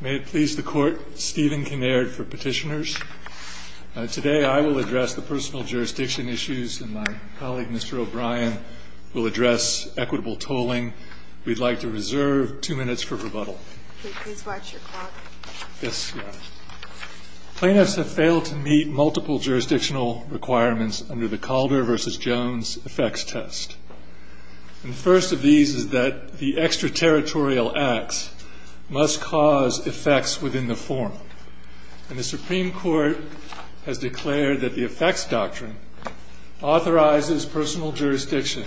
May it please the Court, Stephen Kinnaird for Petitioners. Today I will address the personal jurisdiction issues and my colleague Mr. O'Brien will address equitable tolling. We'd like to reserve two minutes for rebuttal. Please watch your clock. Yes, ma'am. Plaintiffs have failed to meet multiple jurisdictional requirements under the Calder v. Jones effects test. And the first of these is that the extraterritorial acts must cause effects within the forum. And the Supreme Court has declared that the effects doctrine authorizes personal jurisdiction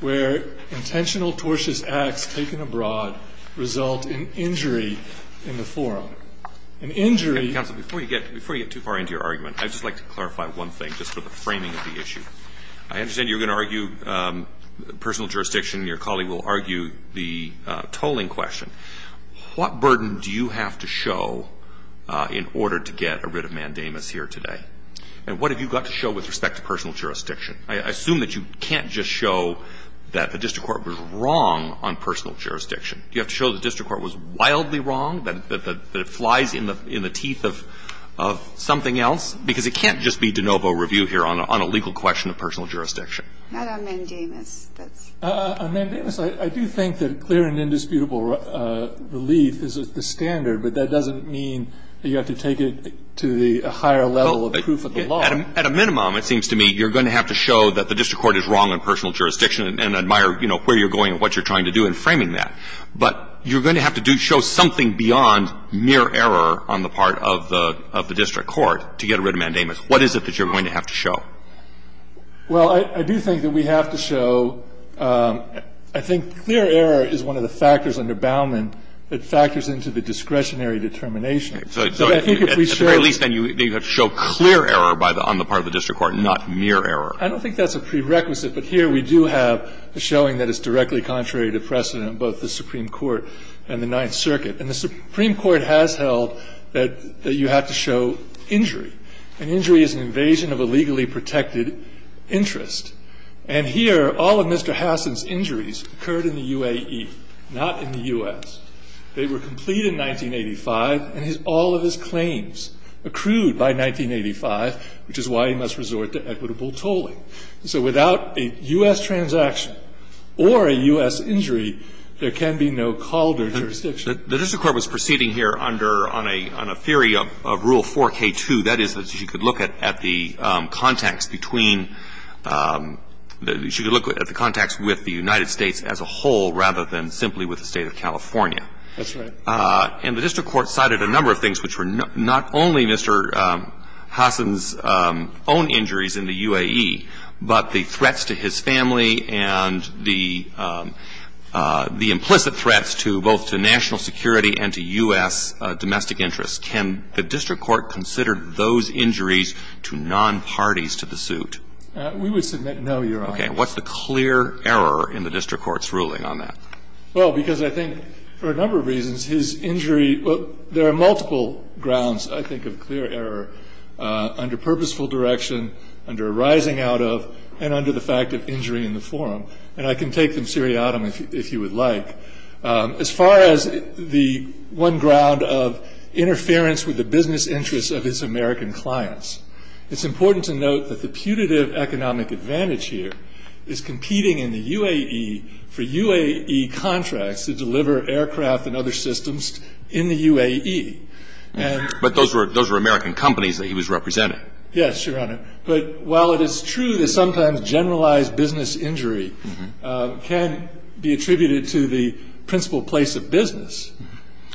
where intentional, tortious acts taken abroad result in injury in the forum. And injury- Counsel, before you get too far into your argument, I'd just like to clarify one thing just for the framing of the issue. I understand you're going to argue personal jurisdiction. Your colleague will argue the tolling question. What burden do you have to show in order to get rid of mandamus here today? And what have you got to show with respect to personal jurisdiction? I assume that you can't just show that the district court was wrong on personal jurisdiction. You have to show the district court was wildly wrong, that it flies in the teeth of something else, because it can't just be de novo review here on a legal question of personal jurisdiction. Not on mandamus. On mandamus, I do think that clear and indisputable relief is the standard. But that doesn't mean that you have to take it to the higher level of proof of the law. At a minimum, it seems to me, you're going to have to show that the district court is wrong on personal jurisdiction and admire, you know, where you're going and what you're trying to do in framing that. But you're going to have to show something beyond mere error on the part of the district court to get rid of mandamus. What is it that you're going to have to show? Well, I do think that we have to show – I think clear error is one of the factors under Baumann that factors into the discretionary determination. So I think if we show – At the very least, then, you have to show clear error on the part of the district court and not mere error. I don't think that's a prerequisite. But here we do have a showing that is directly contrary to precedent in both the Supreme Court and the Ninth Circuit. And the Supreme Court has held that you have to show injury. And injury is an invasion of a legally protected interest. And here, all of Mr. Hassan's injuries occurred in the UAE, not in the U.S. They were complete in 1985, and all of his claims accrued by 1985, which is why he must resort to equitable tolling. So without a U.S. transaction or a U.S. injury, there can be no call to jurisdiction. The district court was proceeding here under – on a theory of rule 4K2. That is, that you could look at the context between – that you could look at the context with the United States as a whole rather than simply with the State of California. That's right. And the district court cited a number of things, which were not only Mr. Hassan's own injuries in the UAE, but the threats to his family and the implicit threats to both to national security and to U.S. domestic interests. Can the district court consider those injuries to nonparties to the suit? We would submit no, Your Honor. Okay. What's the clear error in the district court's ruling on that? Well, because I think for a number of reasons, his injury – there are multiple grounds, I think, of clear error under purposeful direction, under arising out of, and under the fact of injury in the forum. And I can take them seriatim if you would like. As far as the one ground of interference with the business interests of his American clients, it's important to note that the putative economic advantage here is competing in the UAE for UAE contracts to deliver aircraft and other systems in the UAE. But those were American companies that he was representing. Yes, Your Honor. But while it is true that sometimes generalized business injury can be attributed to the principal place of business,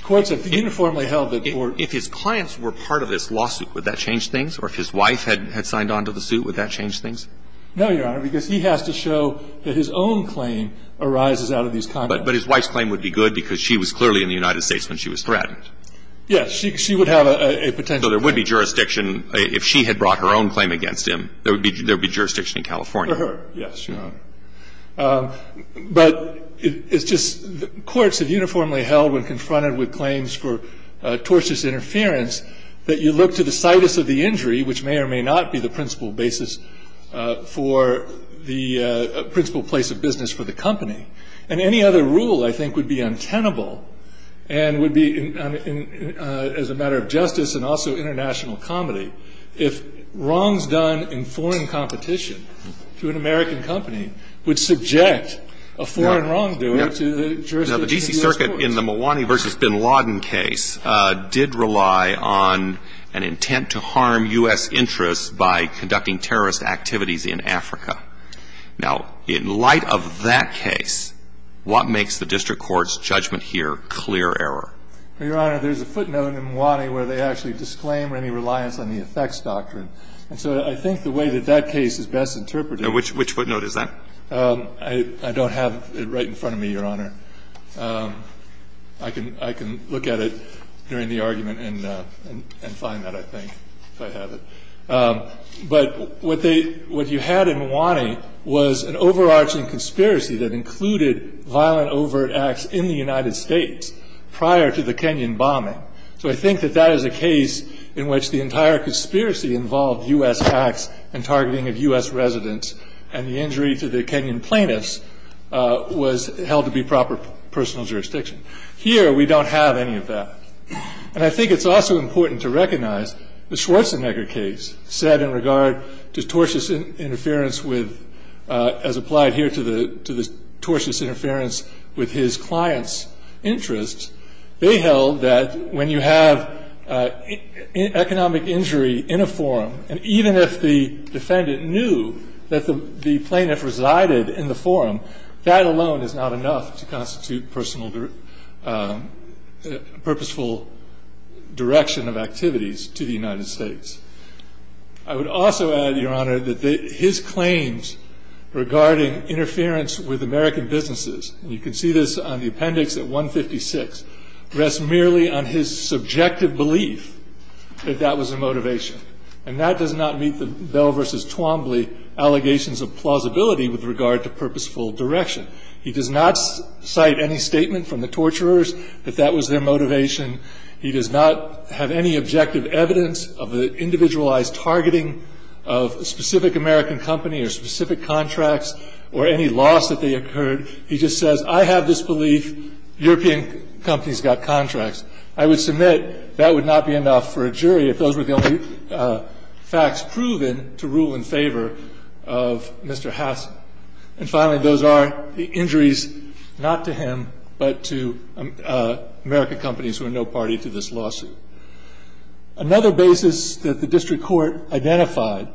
courts have uniformly held that for – If his clients were part of this lawsuit, would that change things? Or if his wife had signed on to the suit, would that change things? No, Your Honor, because he has to show that his own claim arises out of these contacts. But his wife's claim would be good because she was clearly in the United States when she was threatened. Yes. She would have a potential claim. So there would be jurisdiction – if she had brought her own claim against him, there would be jurisdiction in California. For her, yes, Your Honor. But it's just courts have uniformly held when confronted with claims for tortious interference that you look to the situs of the injury, which may or may not be the principal place of business for the company. And any other rule, I think, would be untenable and would be, as a matter of justice and also international comedy, if wrongs done in foreign competition to an American company would subject a foreign wrongdoer to the jurisdiction of the U.S. courts. Now, the D.C. Circuit in the Malwani v. Bin Laden case did rely on an intent to harm U.S. interests by conducting terrorist activities in Africa. Now, in light of that case, what makes the district court's judgment here clear error? Your Honor, there's a footnote in Malwani where they actually disclaim any reliance on the effects doctrine. And so I think the way that that case is best interpreted – Which footnote is that? I don't have it right in front of me, Your Honor. I can look at it during the argument and find that, I think, if I have it. But what you had in Malwani was an overarching conspiracy that included violent, overt acts in the United States prior to the Kenyan bombing. So I think that that is a case in which the entire conspiracy involved U.S. acts and targeting of U.S. residents, and the injury to the Kenyan plaintiffs was held to be proper personal jurisdiction. Here, we don't have any of that. And I think it's also important to recognize the Schwarzenegger case said in regard to tortious interference with – as applied here to the tortious interference with his client's interests, they held that when you have economic injury in a forum, and even if the defendant knew that the plaintiff resided in the forum, that alone is not enough to constitute purposeful direction of activities to the United States. I would also add, Your Honor, that his claims regarding interference with American businesses – and you can see this on the appendix at 156 – rest merely on his subjective belief that that was a motivation. And that does not meet the Bell v. Twombly allegations of plausibility with regard to purposeful direction. He does not cite any statement from the torturers that that was their motivation. He does not have any objective evidence of the individualized targeting of a specific American company or specific contracts or any loss that they occurred. He just says, I have this belief European companies got contracts. I would submit that would not be enough for a jury if those were the only facts proven to rule in favor of Mr. Hassan. And finally, those are the injuries not to him, but to American companies who are no party to this lawsuit. Another basis that the district court identified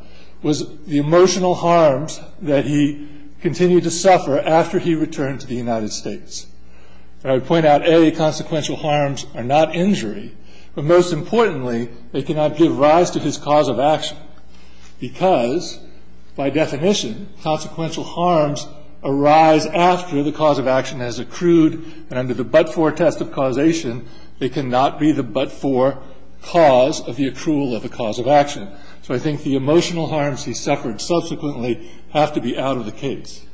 was the emotional harms that he continued to suffer after he returned to the United States. And I would point out, A, consequential harms are not injury, but most importantly, they cannot give rise to his cause of action because, by definition, consequential harms arise after the cause of action has accrued, and under the but-for test of causation, they cannot be the but-for cause of the accrual of the cause of action. So I think the emotional harms he suffered subsequently have to be out of the case.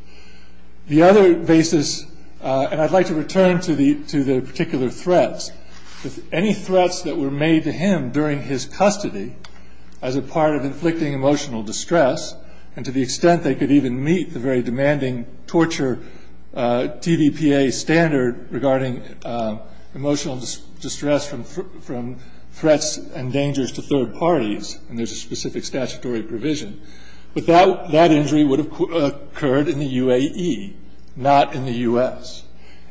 The other basis – and I'd like to return to the particular threats. Any threats that were made to him during his custody as a part of inflicting emotional distress, and to the extent they could even meet the very demanding torture TVPA standard regarding emotional distress from threats and dangers to third parties, and there's a specific statutory provision, but that injury would have occurred in the UAE, not in the U.S.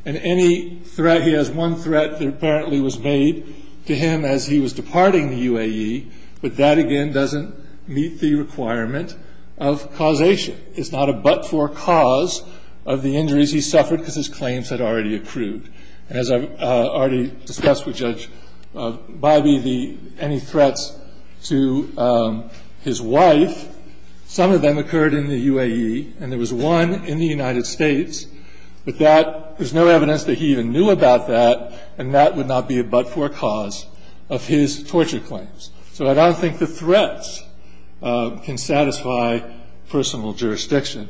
And any threat – he has one threat that apparently was made to him as he was departing the UAE, but that, again, doesn't meet the requirement of causation. It's not a but-for cause of the injuries he suffered because his claims had already accrued. As I've already discussed with Judge Bybee, the – any threats to his wife, some of them occurred in the UAE, and there was one in the United States, but that – there's no evidence that he even knew about that, and that would not be a but-for cause of his torture claims. So I don't think the threats can satisfy personal jurisdiction.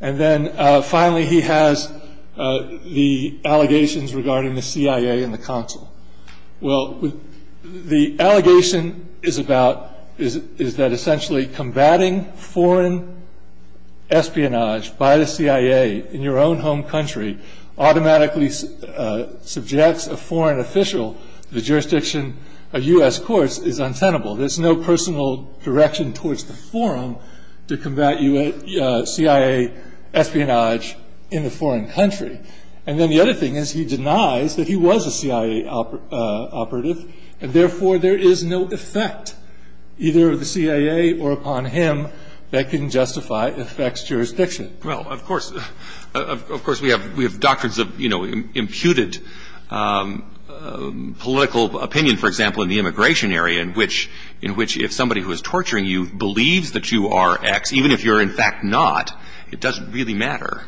And then, finally, he has the allegations regarding the CIA and the consul. Well, the allegation is about – is that essentially combating foreign espionage by the CIA in your own home country automatically subjects a foreign official to the jurisdiction of U.S. courts is untenable. There's no personal direction towards the forum to combat CIA espionage in the foreign country. And then the other thing is he denies that he was a CIA operative, and therefore there is no effect either of the CIA or upon him that can justify effects jurisdiction. Well, of course – of course we have – we have doctrines of, you know, imputed political opinion, for example, in the immigration area in which – in which if somebody who is torturing you believes that you are X, even if you're in fact not, it doesn't really matter.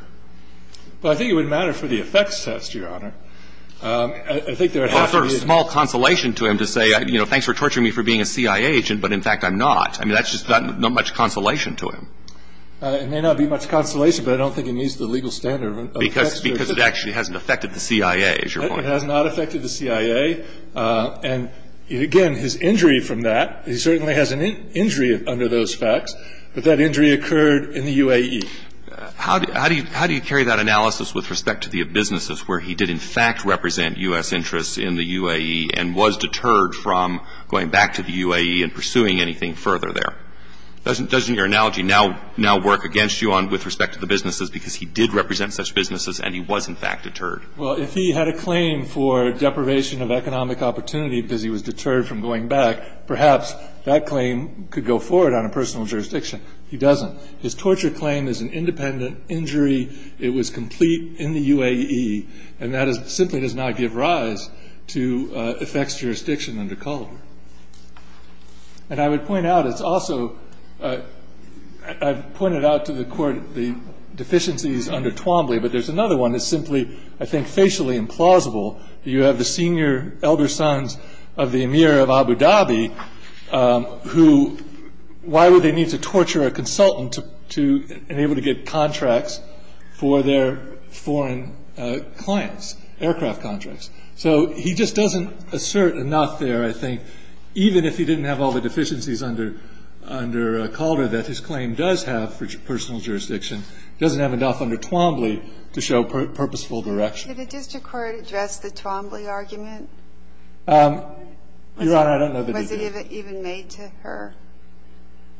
Well, I think it would matter for the effects test, Your Honor. I think there would have to be a – Well, it's a small consolation to him to say, you know, thanks for torturing me for being a CIA agent, but in fact I'm not. I mean, that's just not much consolation to him. It may not be much consolation, but I don't think it meets the legal standard of effects jurisdiction. Because it actually hasn't affected the CIA, is your point? It has not affected the CIA. And, again, his injury from that – he certainly has an injury under those facts, but that injury occurred in the UAE. How do you – how do you carry that analysis with respect to the businesses where he did in fact represent U.S. interests in the UAE and was deterred from going back to the UAE and pursuing anything further there? Doesn't your analogy now work against you with respect to the businesses because he did represent such businesses and he was in fact deterred? Well, if he had a claim for deprivation of economic opportunity because he was deterred from going back, perhaps that claim could go forward on a personal jurisdiction. He doesn't. His torture claim is an independent injury. It was complete in the UAE, and that simply does not give rise to effects jurisdiction under Culver. And I would point out it's also – I've pointed out to the court the deficiencies under Twombly, but there's another one that's simply, I think, facially implausible. You have the senior elder sons of the emir of Abu Dhabi who – why would they need to torture a consultant to – in order to get contracts for their foreign clients, aircraft contracts? So he just doesn't assert enough there, I think, even if he didn't have all the deficiencies under Culver that his claim does have for personal jurisdiction. It doesn't have enough under Twombly to show purposeful direction. Did the district court address the Twombly argument? Your Honor, I don't know that it did. Was it even made to her?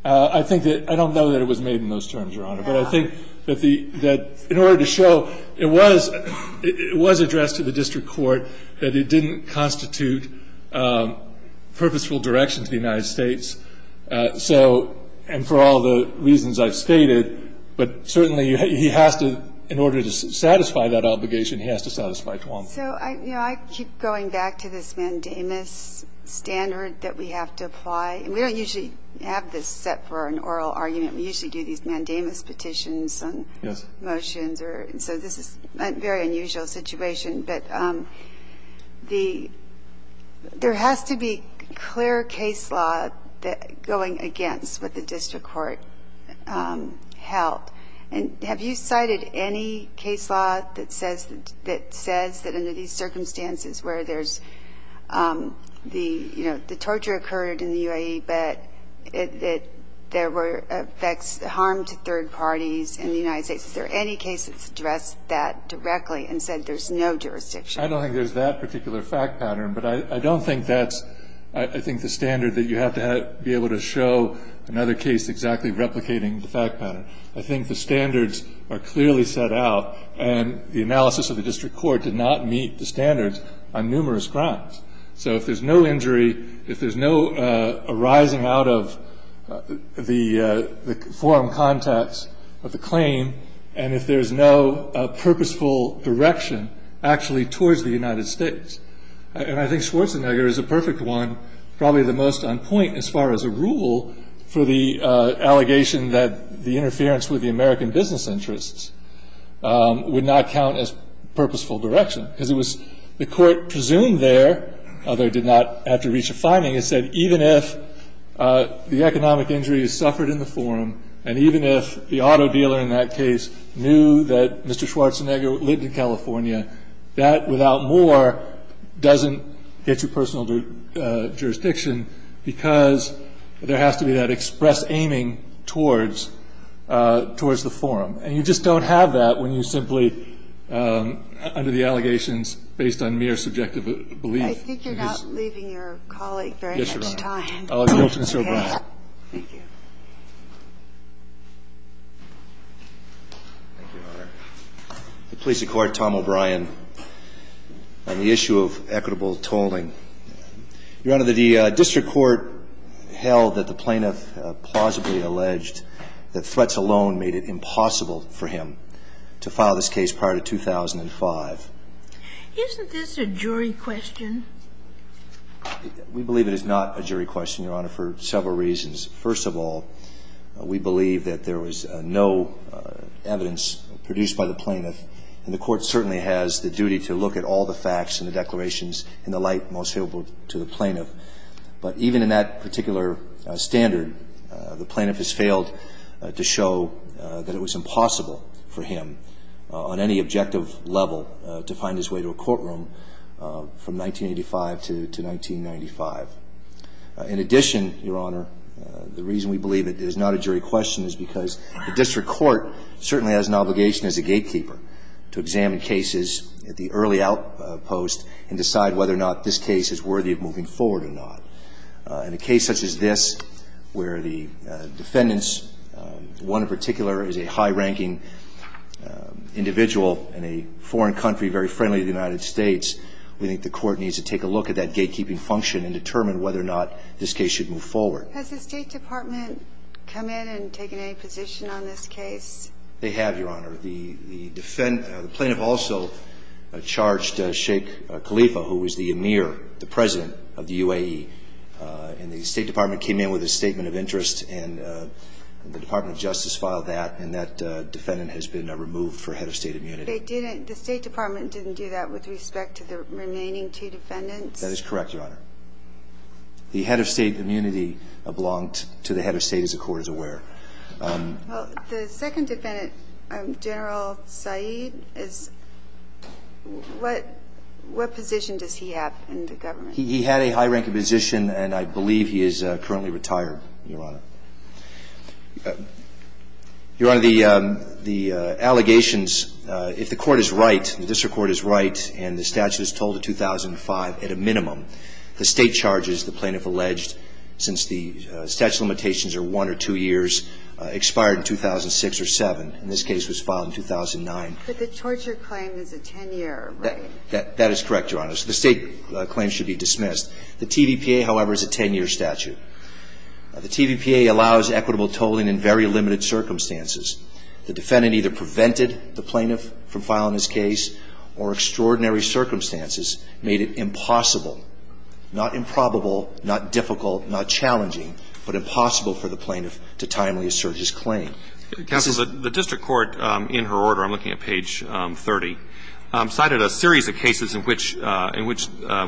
I think that – I don't know that it was made in those terms, Your Honor. But I think that the – that in order to show it was addressed to the district court, that it didn't constitute purposeful direction to the United States. So – and for all the reasons I've stated, but certainly he has to – in order to satisfy that obligation, he has to satisfy Twombly. So, you know, I keep going back to this mandamus standard that we have to apply. And we don't usually have this set for an oral argument. We usually do these mandamus petitions and motions. So this is a very unusual situation. But the – there has to be clear case law going against what the district court held. And have you cited any case law that says that under these circumstances where there's the – you know, the torture occurred in the UAE, but it – there were effects – harm to third parties in the United States. Is there any case that's addressed that directly and said there's no jurisdiction? I don't think there's that particular fact pattern. But I don't think that's, I think, the standard that you have to have – be able to show another case exactly replicating the fact pattern. I think the standards are clearly set out. And the analysis of the district court did not meet the standards on numerous crimes. So if there's no injury, if there's no arising out of the forum context of the claim, and if there's no purposeful direction actually towards the United States – and I think Schwarzenegger is a perfect one, probably the most on point as far as a rule for the allegation that the interference with the American business interests would not count as purposeful direction. Because it was – the court presumed there, although it did not have to reach a finding, it said even if the economic injuries suffered in the forum and even if the auto dealer in that case knew that Mr. Schwarzenegger lived in California, that without more doesn't get you personal jurisdiction because there has to be that express aiming towards the forum. And you just don't have that when you simply, under the allegations, based on mere subjective belief. I think you're not leaving your colleague very much time. Yes, Your Honor. I'll yield to Mr. O'Brien. Thank you. Thank you, Your Honor. The police accord, Tom O'Brien, on the issue of equitable tolling. Your Honor, the district court held that the plaintiff plausibly alleged that threats alone made it impossible for him to file this case prior to 2005. Isn't this a jury question? We believe it is not a jury question, Your Honor, for several reasons. First of all, we believe that there was no evidence produced by the plaintiff. And the court certainly has the duty to look at all the facts and the declarations in the light most favorable to the plaintiff. But even in that particular standard, the plaintiff has failed to show that it was impossible for him, on any objective level, to find his way to a courtroom from 1985 to 1995. In addition, Your Honor, the reason we believe it is not a jury question is because the district court certainly has an obligation as a gatekeeper to examine cases at the early outpost and decide whether or not this case is worthy of moving forward or not. In a case such as this, where the defendants, one in particular is a high-ranking individual in a foreign country very friendly to the United States, we think the court needs to take a look at that gatekeeping function and determine whether or not this case should move forward. Has the State Department come in and taken any position on this case? They have, Your Honor. The plaintiff also charged Sheikh Khalifa, who was the emir, the president of the UAE, and the State Department came in with a statement of interest, and the Department of Justice filed that, and that defendant has been removed for head of state immunity. The State Department didn't do that with respect to the remaining two defendants? That is correct, Your Honor. The head of state immunity belonged to the head of state, as the court is aware. Well, the second defendant, General Saeed, is what position does he have in the government? He had a high-ranking position, and I believe he is currently retired, Your Honor. Your Honor, the allegations, if the court is right, the district court is right, and the statute is told in 2005 at a minimum, the state charges the plaintiff The State Department, however, is a 10-year statute. The TVPA allows equitable tolling in very limited circumstances. The defendant either prevented the plaintiff from filing his case or extraordinary circumstances made it impossible, not improbable, not doable, for the plaintiff The TVPA allows equitable tolling in very limited circumstances. difficult, not challenging, but impossible for the plaintiff to timely assert his claim. Counsel, the district court, in her order, I'm looking at page 30, cited a series of cases in which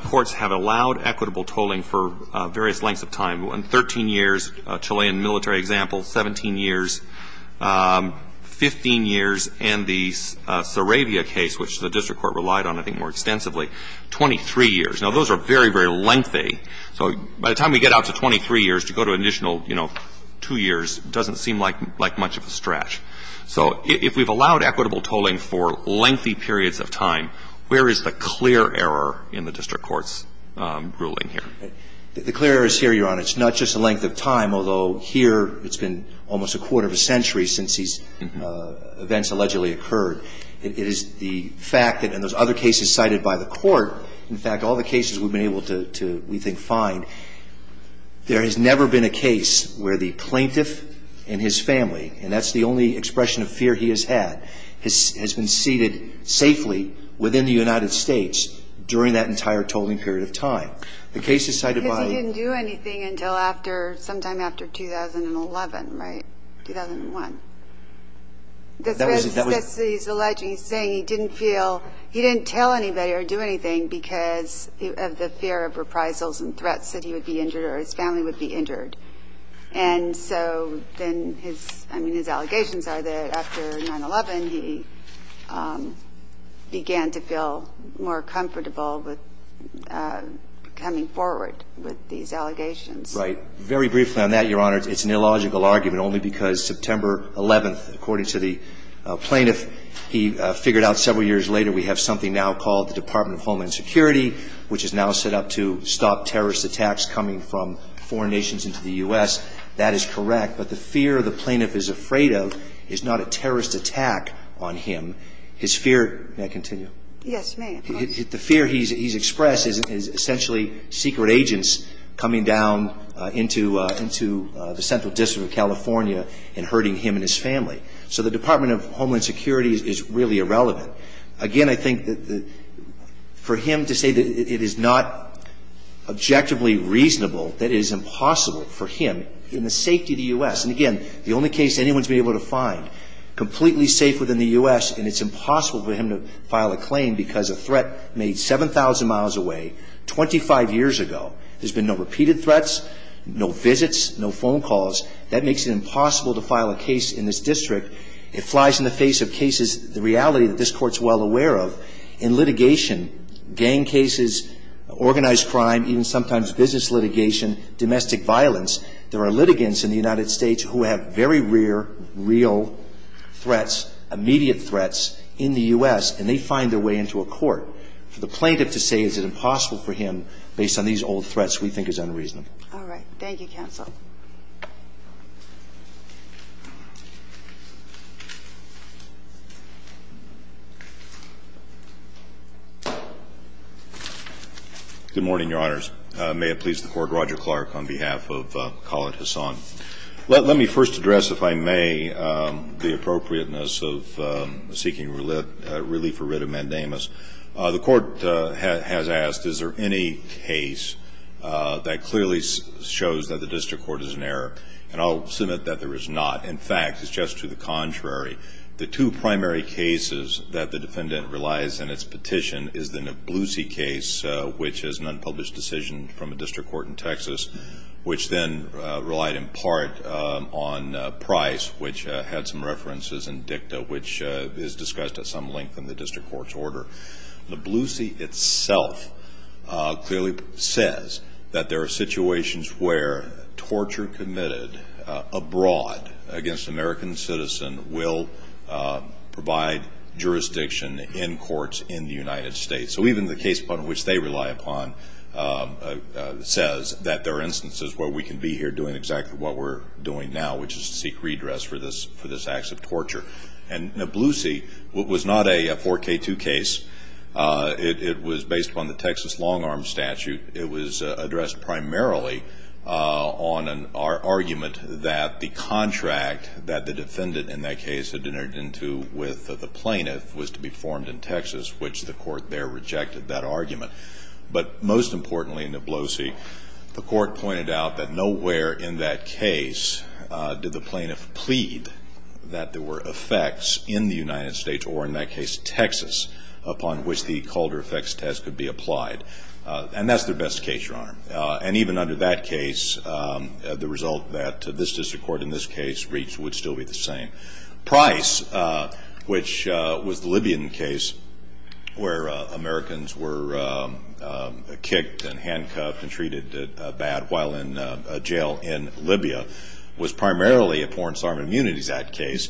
courts have allowed equitable tolling for various lengths of time, 13 years, Chilean military example, 17 years, 15 years, and the Saravia case, which the district court relied on, I think, more extensively, 23 years. Now, those are very, very lengthy. So by the time we get out to 23 years, to go to an additional, you know, two years doesn't seem like much of a stretch. So if we've allowed equitable tolling for lengthy periods of time, where is the clear error in the district court's ruling here? The clear error is here, Your Honor. It's not just the length of time, although here it's been almost a quarter of a century since these events allegedly occurred. It is the fact that in those other cases cited by the court, in fact, all the cases we've been able to, we think, find, there has never been a case where the plaintiff and his family, and that's the only expression of fear he has had, has been seated safely within the United States during that entire tolling period of time. The case is cited by... Because he didn't do anything until after, sometime after 2011, right? 2001. That was... He's alleging, he's saying he didn't feel, he didn't tell anybody or do anything because of the fear of reprisals and threats that he would be injured or his family would be injured. And so then his, I mean, his allegations are that after 9-11 he began to feel more comfortable with coming forward with these allegations. Right. Very briefly on that, Your Honor, it's an illogical argument only because September 11th, according to the plaintiff, he figured out several years later we have something now called the Department of Homeland Security, which is now set up to stop terrorist attacks coming from foreign nations into the U.S. That is correct. But the fear the plaintiff is afraid of is not a terrorist attack on him. His fear... May I continue? Yes, you may. The fear he's expressed is essentially secret agents coming down into the central district of California and hurting him and his family. So the Department of Homeland Security is really irrelevant. Again, I think that for him to say that it is not objectively reasonable, that it is impossible for him, in the safety of the U.S. And again, the only case anyone's been able to find completely safe within the U.S. and it's impossible for him to file a claim because a threat made 7,000 miles away 25 years ago. There's been no repeated threats, no visits, no phone calls. That makes it impossible to file a case in this district. It flies in the face of cases, the reality that this court's well aware of. In litigation, gang cases, organized crime, even sometimes business litigation, domestic violence, there are litigants in the United States who have very rare, real threats, immediate threats in the U.S. and they find their way into a court. For the plaintiff to say is it impossible for him based on these old threats we think is unreasonable. All right. Thank you, counsel. Good morning, Your Honors. May it please the Court. Roger Clark on behalf of Khaled Hassan. Let me first address, if I may, the appropriateness of seeking relief or writ of mandamus. The Court has asked is there any case that clearly shows that the district court is in error? And I'll submit that there is not. In fact, it's just to the contrary. The two primary cases that the defendant relies on in its petition is the Nablusi case, which is an unpublished decision from a district court in Texas, which then relied in part on Price, which had some references in dicta, which is discussed at some length in the district court's order. Nablusi itself clearly says that there are situations where torture committed abroad against an American citizen will provide jurisdiction in courts in the United States. So even the case upon which they rely upon says that there are instances where we can be here doing exactly what we're doing now, which is to seek redress for this act of torture. And Nablusi was not a 4K2 case. It was based upon the Texas long-arm statute. It was addressed primarily on an argument that the contract that the defendant in that case had entered into with the plaintiff was to be formed in Texas, which the Court there rejected that argument. But most importantly in Nablusi, the Court pointed out that nowhere in that case did the plaintiff plead that there were effects in the United States, or in that case Texas, upon which the Calder effects test could be applied. And that's their best case, Your Honor. And even under that case, the result that this district court in this case reached would still be the same. Price, which was the Libyan case where Americans were kicked and handcuffed and treated bad while in jail in Libya, was primarily a Forensic Armed Immunities Act case,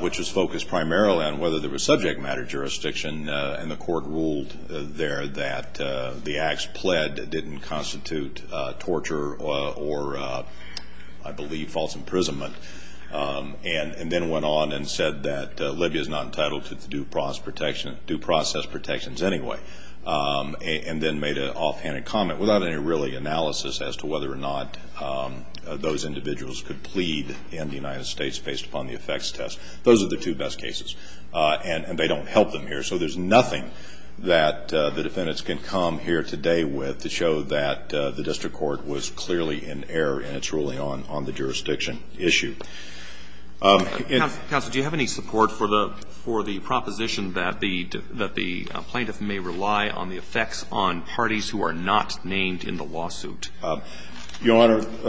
which was focused primarily on whether there was subject matter jurisdiction. And the Court ruled there that the acts pled didn't constitute torture or, I believe, false imprisonment. And then went on and said that Libya is not entitled to due process protections anyway. And then made an offhanded comment without any really analysis as to whether or not those individuals could plead in the United States based upon the effects test. Those are the two best cases. And they don't help them here. So there's nothing that the defendants can come here today with to show that the district court was clearly in error and it's ruling on the jurisdiction issue. And the Court ruled there that the acts pled didn't constitute torture or, I believe, And then made an offhanded comment without any really analysis as to whether or not those individuals could plead in the United States based upon the effects test. And then went on and said that the district court was clearly in error and it's ruling on the jurisdiction issue. And as the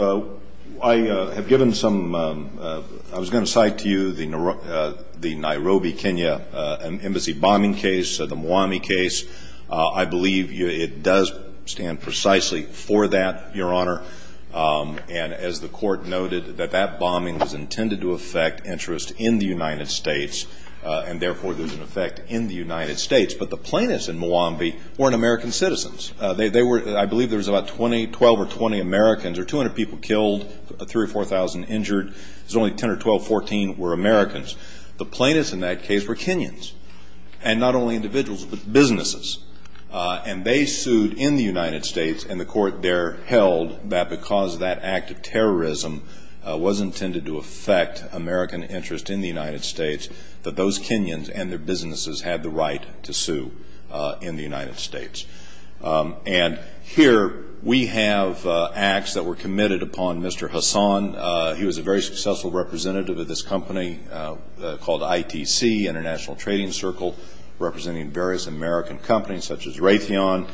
Court noted, that that bombing was intended to affect interest in the United States and therefore there's an effect in the United States. But the plaintiffs in Muambi weren't American citizens. They were, I believe there was about 20, 12 or 20 Americans or 200 people killed, 3 or 4,000 injured. There's only 10 or 12, 14 were Americans. The plaintiffs in that case were Kenyans. And not only individuals but businesses. And they sued in the United States. And the Court there held that because that act of terrorism was intended to affect American interest in the United States, that those Kenyans and their businesses had the right to sue in the United States. And here we have acts that were committed upon Mr. Hassan. He was a very successful representative of this company called ITC, International Trading Circle, representing various American companies such as Raytheon,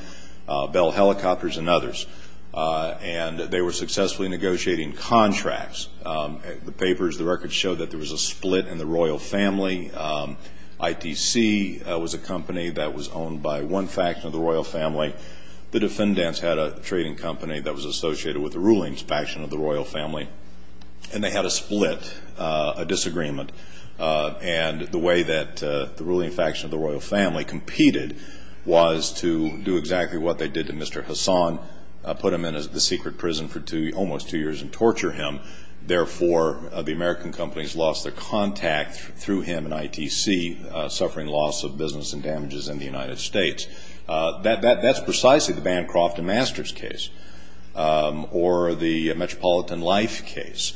Bell Helicopters and others. And they were successfully negotiating contracts. The papers, the records show that there was a split in the royal family. ITC was a company that was owned by one faction of the royal family. The defendants had a trading company that was associated with the ruling faction of the royal family. And they had a split, a disagreement. And the way that the ruling faction of the royal family competed was to do exactly what they did to Mr. Hassan, put him in the secret prison for almost two years and torture him. Therefore, the American companies lost their contact through him and ITC, suffering loss of business and damages in the United States. That's precisely the Bancroft and Masters case. Or the Metropolitan Life case.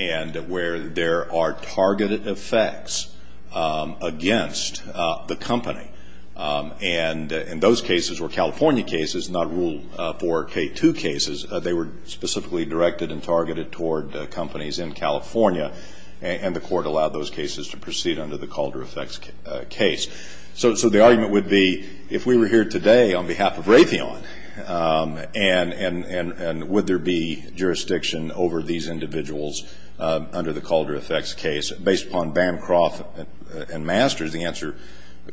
And where there are targeted effects against the company. And those cases were California cases, not Rule 4K2 cases. They were specifically directed and targeted toward companies in California. And the court allowed those cases to proceed under the Calder effects case. So the argument would be, if we were here today on behalf of Raytheon, and would there be jurisdiction over these individuals under the Calder effects case based upon Bancroft and Masters, the answer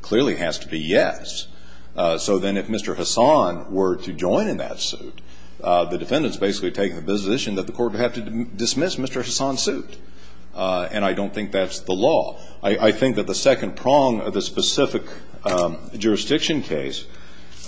clearly has to be yes. So then if Mr. Hassan were to join in that suit, the defendants basically take the position that the court would have to dismiss Mr. Hassan's suit. And I don't think that's the law. I think that the second prong of the specific jurisdiction case,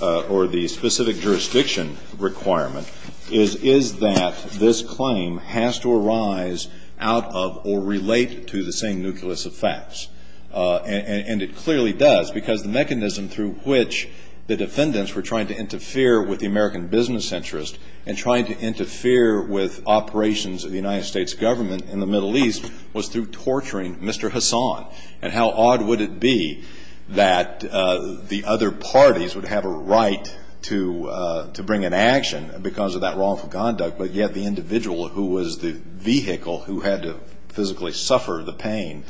or the specific jurisdiction requirement, is that this claim has to arise out of or relate to the same nucleus of facts. And it clearly does. Because the mechanism through which the defendants were trying to interfere with the American business interest and trying to interfere with operations of the United States government in the Middle East was through torturing Mr. Hassan. And how odd would it be that the other parties would have a right to bring an action because of that wrongful conduct, but yet the individual who was the vehicle who had to physically suffer the pain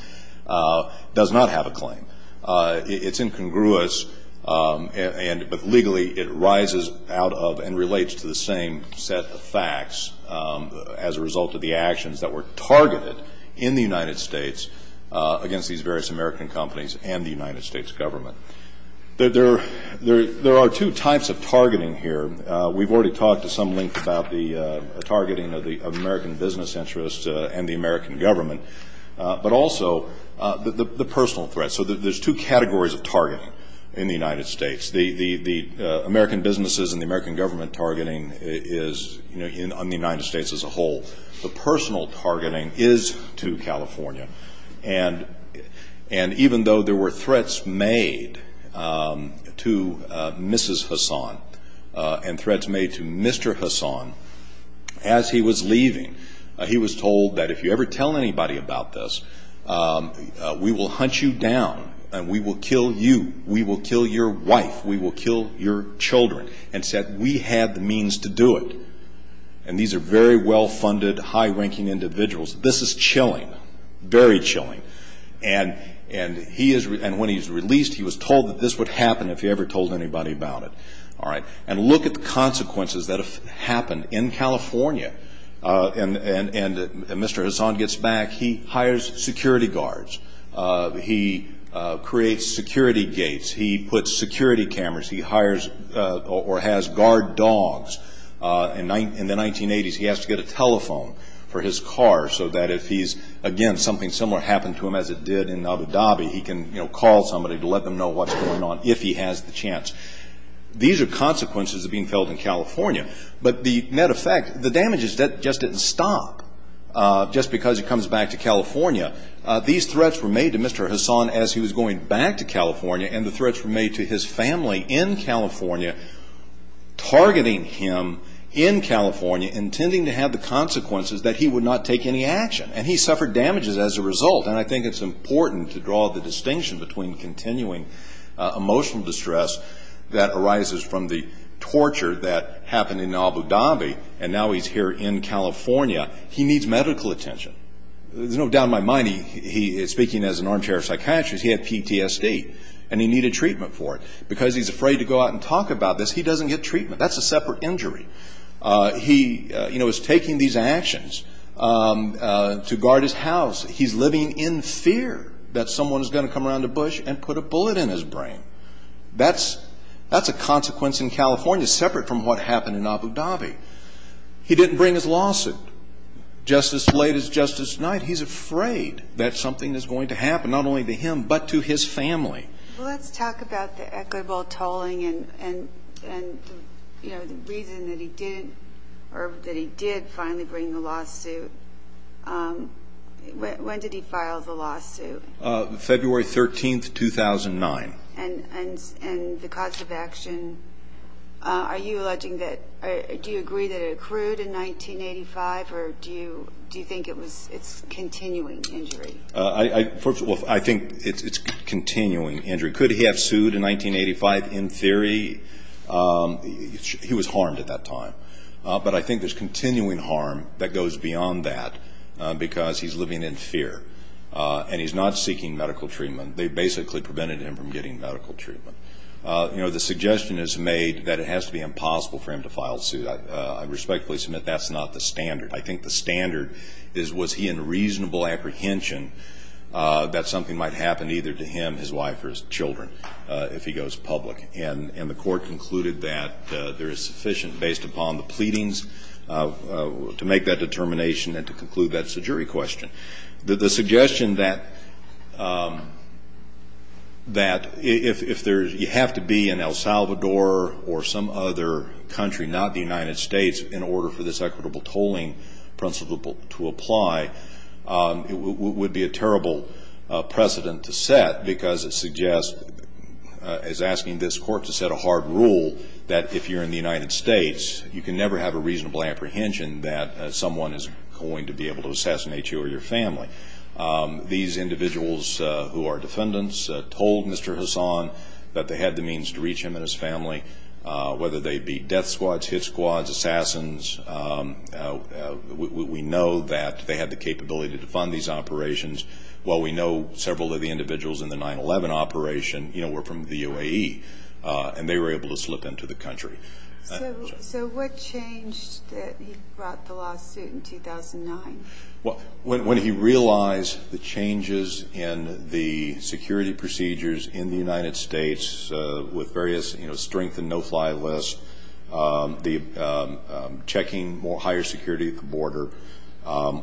does not have a claim. It's incongruous, but legally it rises out of and relates to the same set of facts as a result of the actions that were targeted in the United States against these various American companies and the United States government. There are two types of targeting here. We've already talked at some length about the targeting of the American business interest and the American government, but also the personal threat. So there's two categories of targeting in the United States. The American businesses and the American government targeting is, you know, on the United States as a whole. The personal targeting is to California. And even though there were threats made to Mrs. Hassan and threats made to Mr. Hassan, as he was leaving, he was told that if you ever tell anybody about this, we will hunt you down and we will kill you. We will kill your wife. We will kill your children. And said, we have the means to do it. And these are very well-funded, high-ranking individuals. This is chilling, very chilling. And when he's released, he was told that this would happen if he ever told anybody about it. And look at the consequences that have happened in California. And Mr. Hassan gets back. He hires security guards. He creates security gates. He puts security cameras. He hires or has guard dogs. In the 1980s, he has to get a telephone for his car so that if he's, again, something similar happened to him as it did in Abu Dhabi, he can, you know, call somebody to let them know what's going on if he has the chance. These are consequences of being held in California. But the matter of fact, the damages just didn't stop just because he comes back to California. These threats were made to Mr. Hassan as he was going back to California, and the threats were made to his family in California, targeting him in California, intending to have the consequences that he would not take any action. And he suffered damages as a result. And I think it's important to draw the distinction between continuing emotional distress that arises from the torture that happened in Abu Dhabi, and now he's here in California. He needs medical attention. You know, down to my mind, he is speaking as an armchair psychiatrist. He had PTSD, and he needed treatment for it. Because he's afraid to go out and talk about this, he doesn't get treatment. That's a separate injury. He, you know, is taking these actions to guard his house. He's living in fear that someone is going to come around to Bush and put a bullet in his brain. That's a consequence in California separate from what happened in Abu Dhabi. He didn't bring his lawsuit. Just as late as just this night, he's afraid that something is going to happen, not only to him, but to his family. Well, let's talk about the equitable tolling and, you know, the reason that he didn't or that he did finally bring the lawsuit. When did he file the lawsuit? February 13, 2009. And the cause of action, are you alleging that, do you agree that it accrued in 1985, or do you think it's continuing injury? I think it's continuing injury. Could he have sued in 1985 in theory? He was harmed at that time. But I think there's continuing harm that goes beyond that because he's living in fear, and he's not seeking medical treatment. They basically prevented him from getting medical treatment. You know, the suggestion is made that it has to be impossible for him to file a suit. I respectfully submit that's not the standard. I think the standard is was he in reasonable apprehension that something might happen either to him, his wife, or his children if he goes public. And the court concluded that there is sufficient based upon the pleadings to make that determination and to conclude that it's a jury question. The suggestion that if there's, you have to be in El Salvador or some other country, not the United States, in order for this equitable tolling principle to apply would be a terrible precedent to set because it suggests, as asking this court to set a hard rule, that if you're in the United States, you can never have a reasonable apprehension that someone is going to be able to assassinate you or your family. These individuals who are defendants told Mr. Hassan that they had the means to reach him and his family, whether they be death squads, hit squads, assassins. We know that they had the capability to defund these operations. We know several of the individuals in the 9-11 operation were from the UAE and they were able to slip into the country. So what changed that he brought the lawsuit in 2009? When he realized the changes in the security procedures in the United States with various strengthened no-fly lists, checking higher security at the border,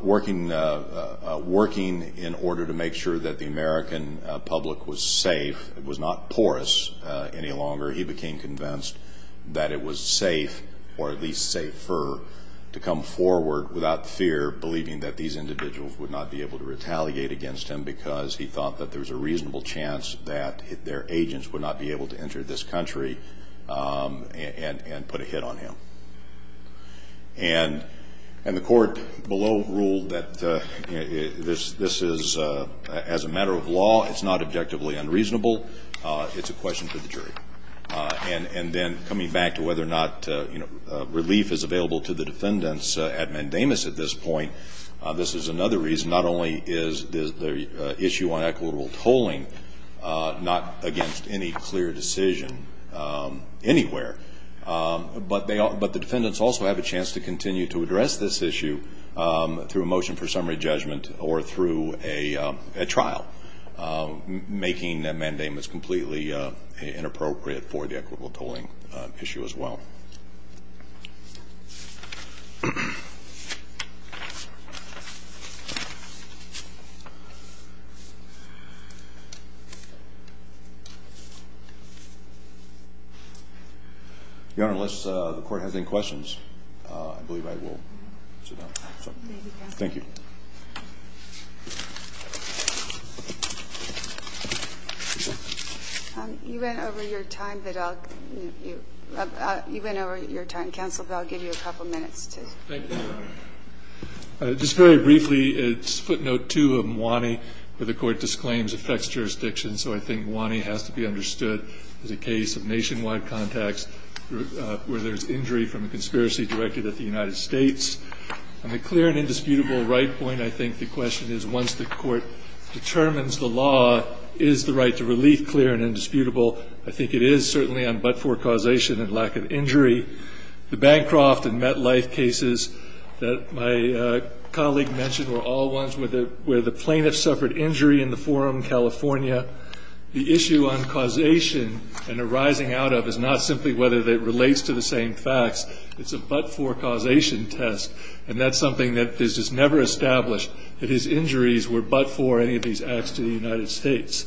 working in order to make sure that the American public was safe, was not porous any longer, he became convinced that it was safe, or at least safer, to come forward without fear, believing that these individuals would not be able to retaliate against him because he thought that there was a reasonable chance that their family would be safe in this country and put a hit on him. And the court below ruled that this is, as a matter of law, it's not objectively unreasonable. It's a question for the jury. And then coming back to whether or not relief is available to the defendants at Mandamus at this point, this is another reason not only is the issue on equitable tolling not against any clear decision anywhere, but the defendants also have a chance to continue to address this issue through a motion for summary judgment or through a trial, making Mandamus completely inappropriate for the equitable tolling issue as well. Your Honor, unless the Court has any questions, I believe I will sit down. Thank you. Thank you, counsel. You went over your time that I'll You went over your time, counsel, but I'll give you a couple minutes to Thank you, Your Honor. Just very briefly, it's footnote 2 of Mwane where the court disclaims effects jurisdiction, so I think Mwane has to be understood as a case of nationwide contacts where there's injury from a conspiracy directed at the United States. On a clear and indisputable right point, I think the question is once the Court determines the law, is the right to relief clear and indisputable? I think it is certainly on but-for causation and lack of injury. The Bancroft and MetLife cases that my colleague mentioned were all ones where the plaintiffs suffered injury in the Forum California. The issue on causation and arising out of is not simply whether it relates to the same facts. It's a but-for causation test, and that's something that is just never established that his injuries were but-for any of these acts to the United States.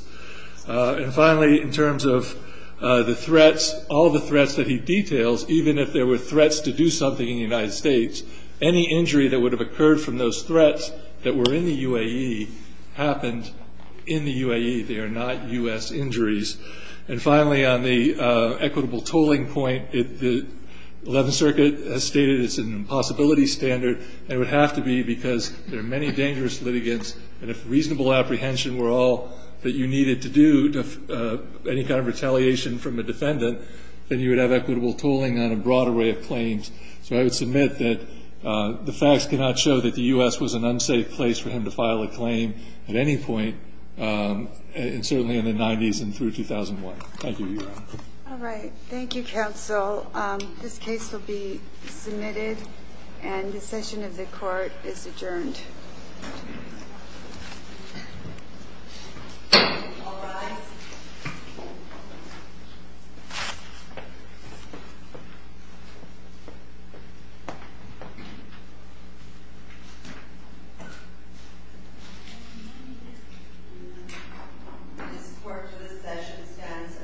And finally, in terms of the threats, all the threats that he details, even if there were threats to do something in the United States, any injury that would have occurred from those threats that were in the UAE happened in the UAE. They are not U.S. injuries. And finally, on the equitable tolling point, the Eleventh Circuit has stated it's an impossibility standard, and it would have to be because there are many dangerous litigants, and if reasonable apprehension were all that you needed to do to any kind of retaliation from a defendant, then you would have equitable tolling on a broad array of claims. So I would submit that the facts cannot show that the U.S. was an unsafe place for him to file a claim at any point, certainly in the 90s and through 2001. Thank you, Your Honor. Thank you, Counsel. This case will be submitted and the session of the Court is adjourned. Any support for this session stands adjourned.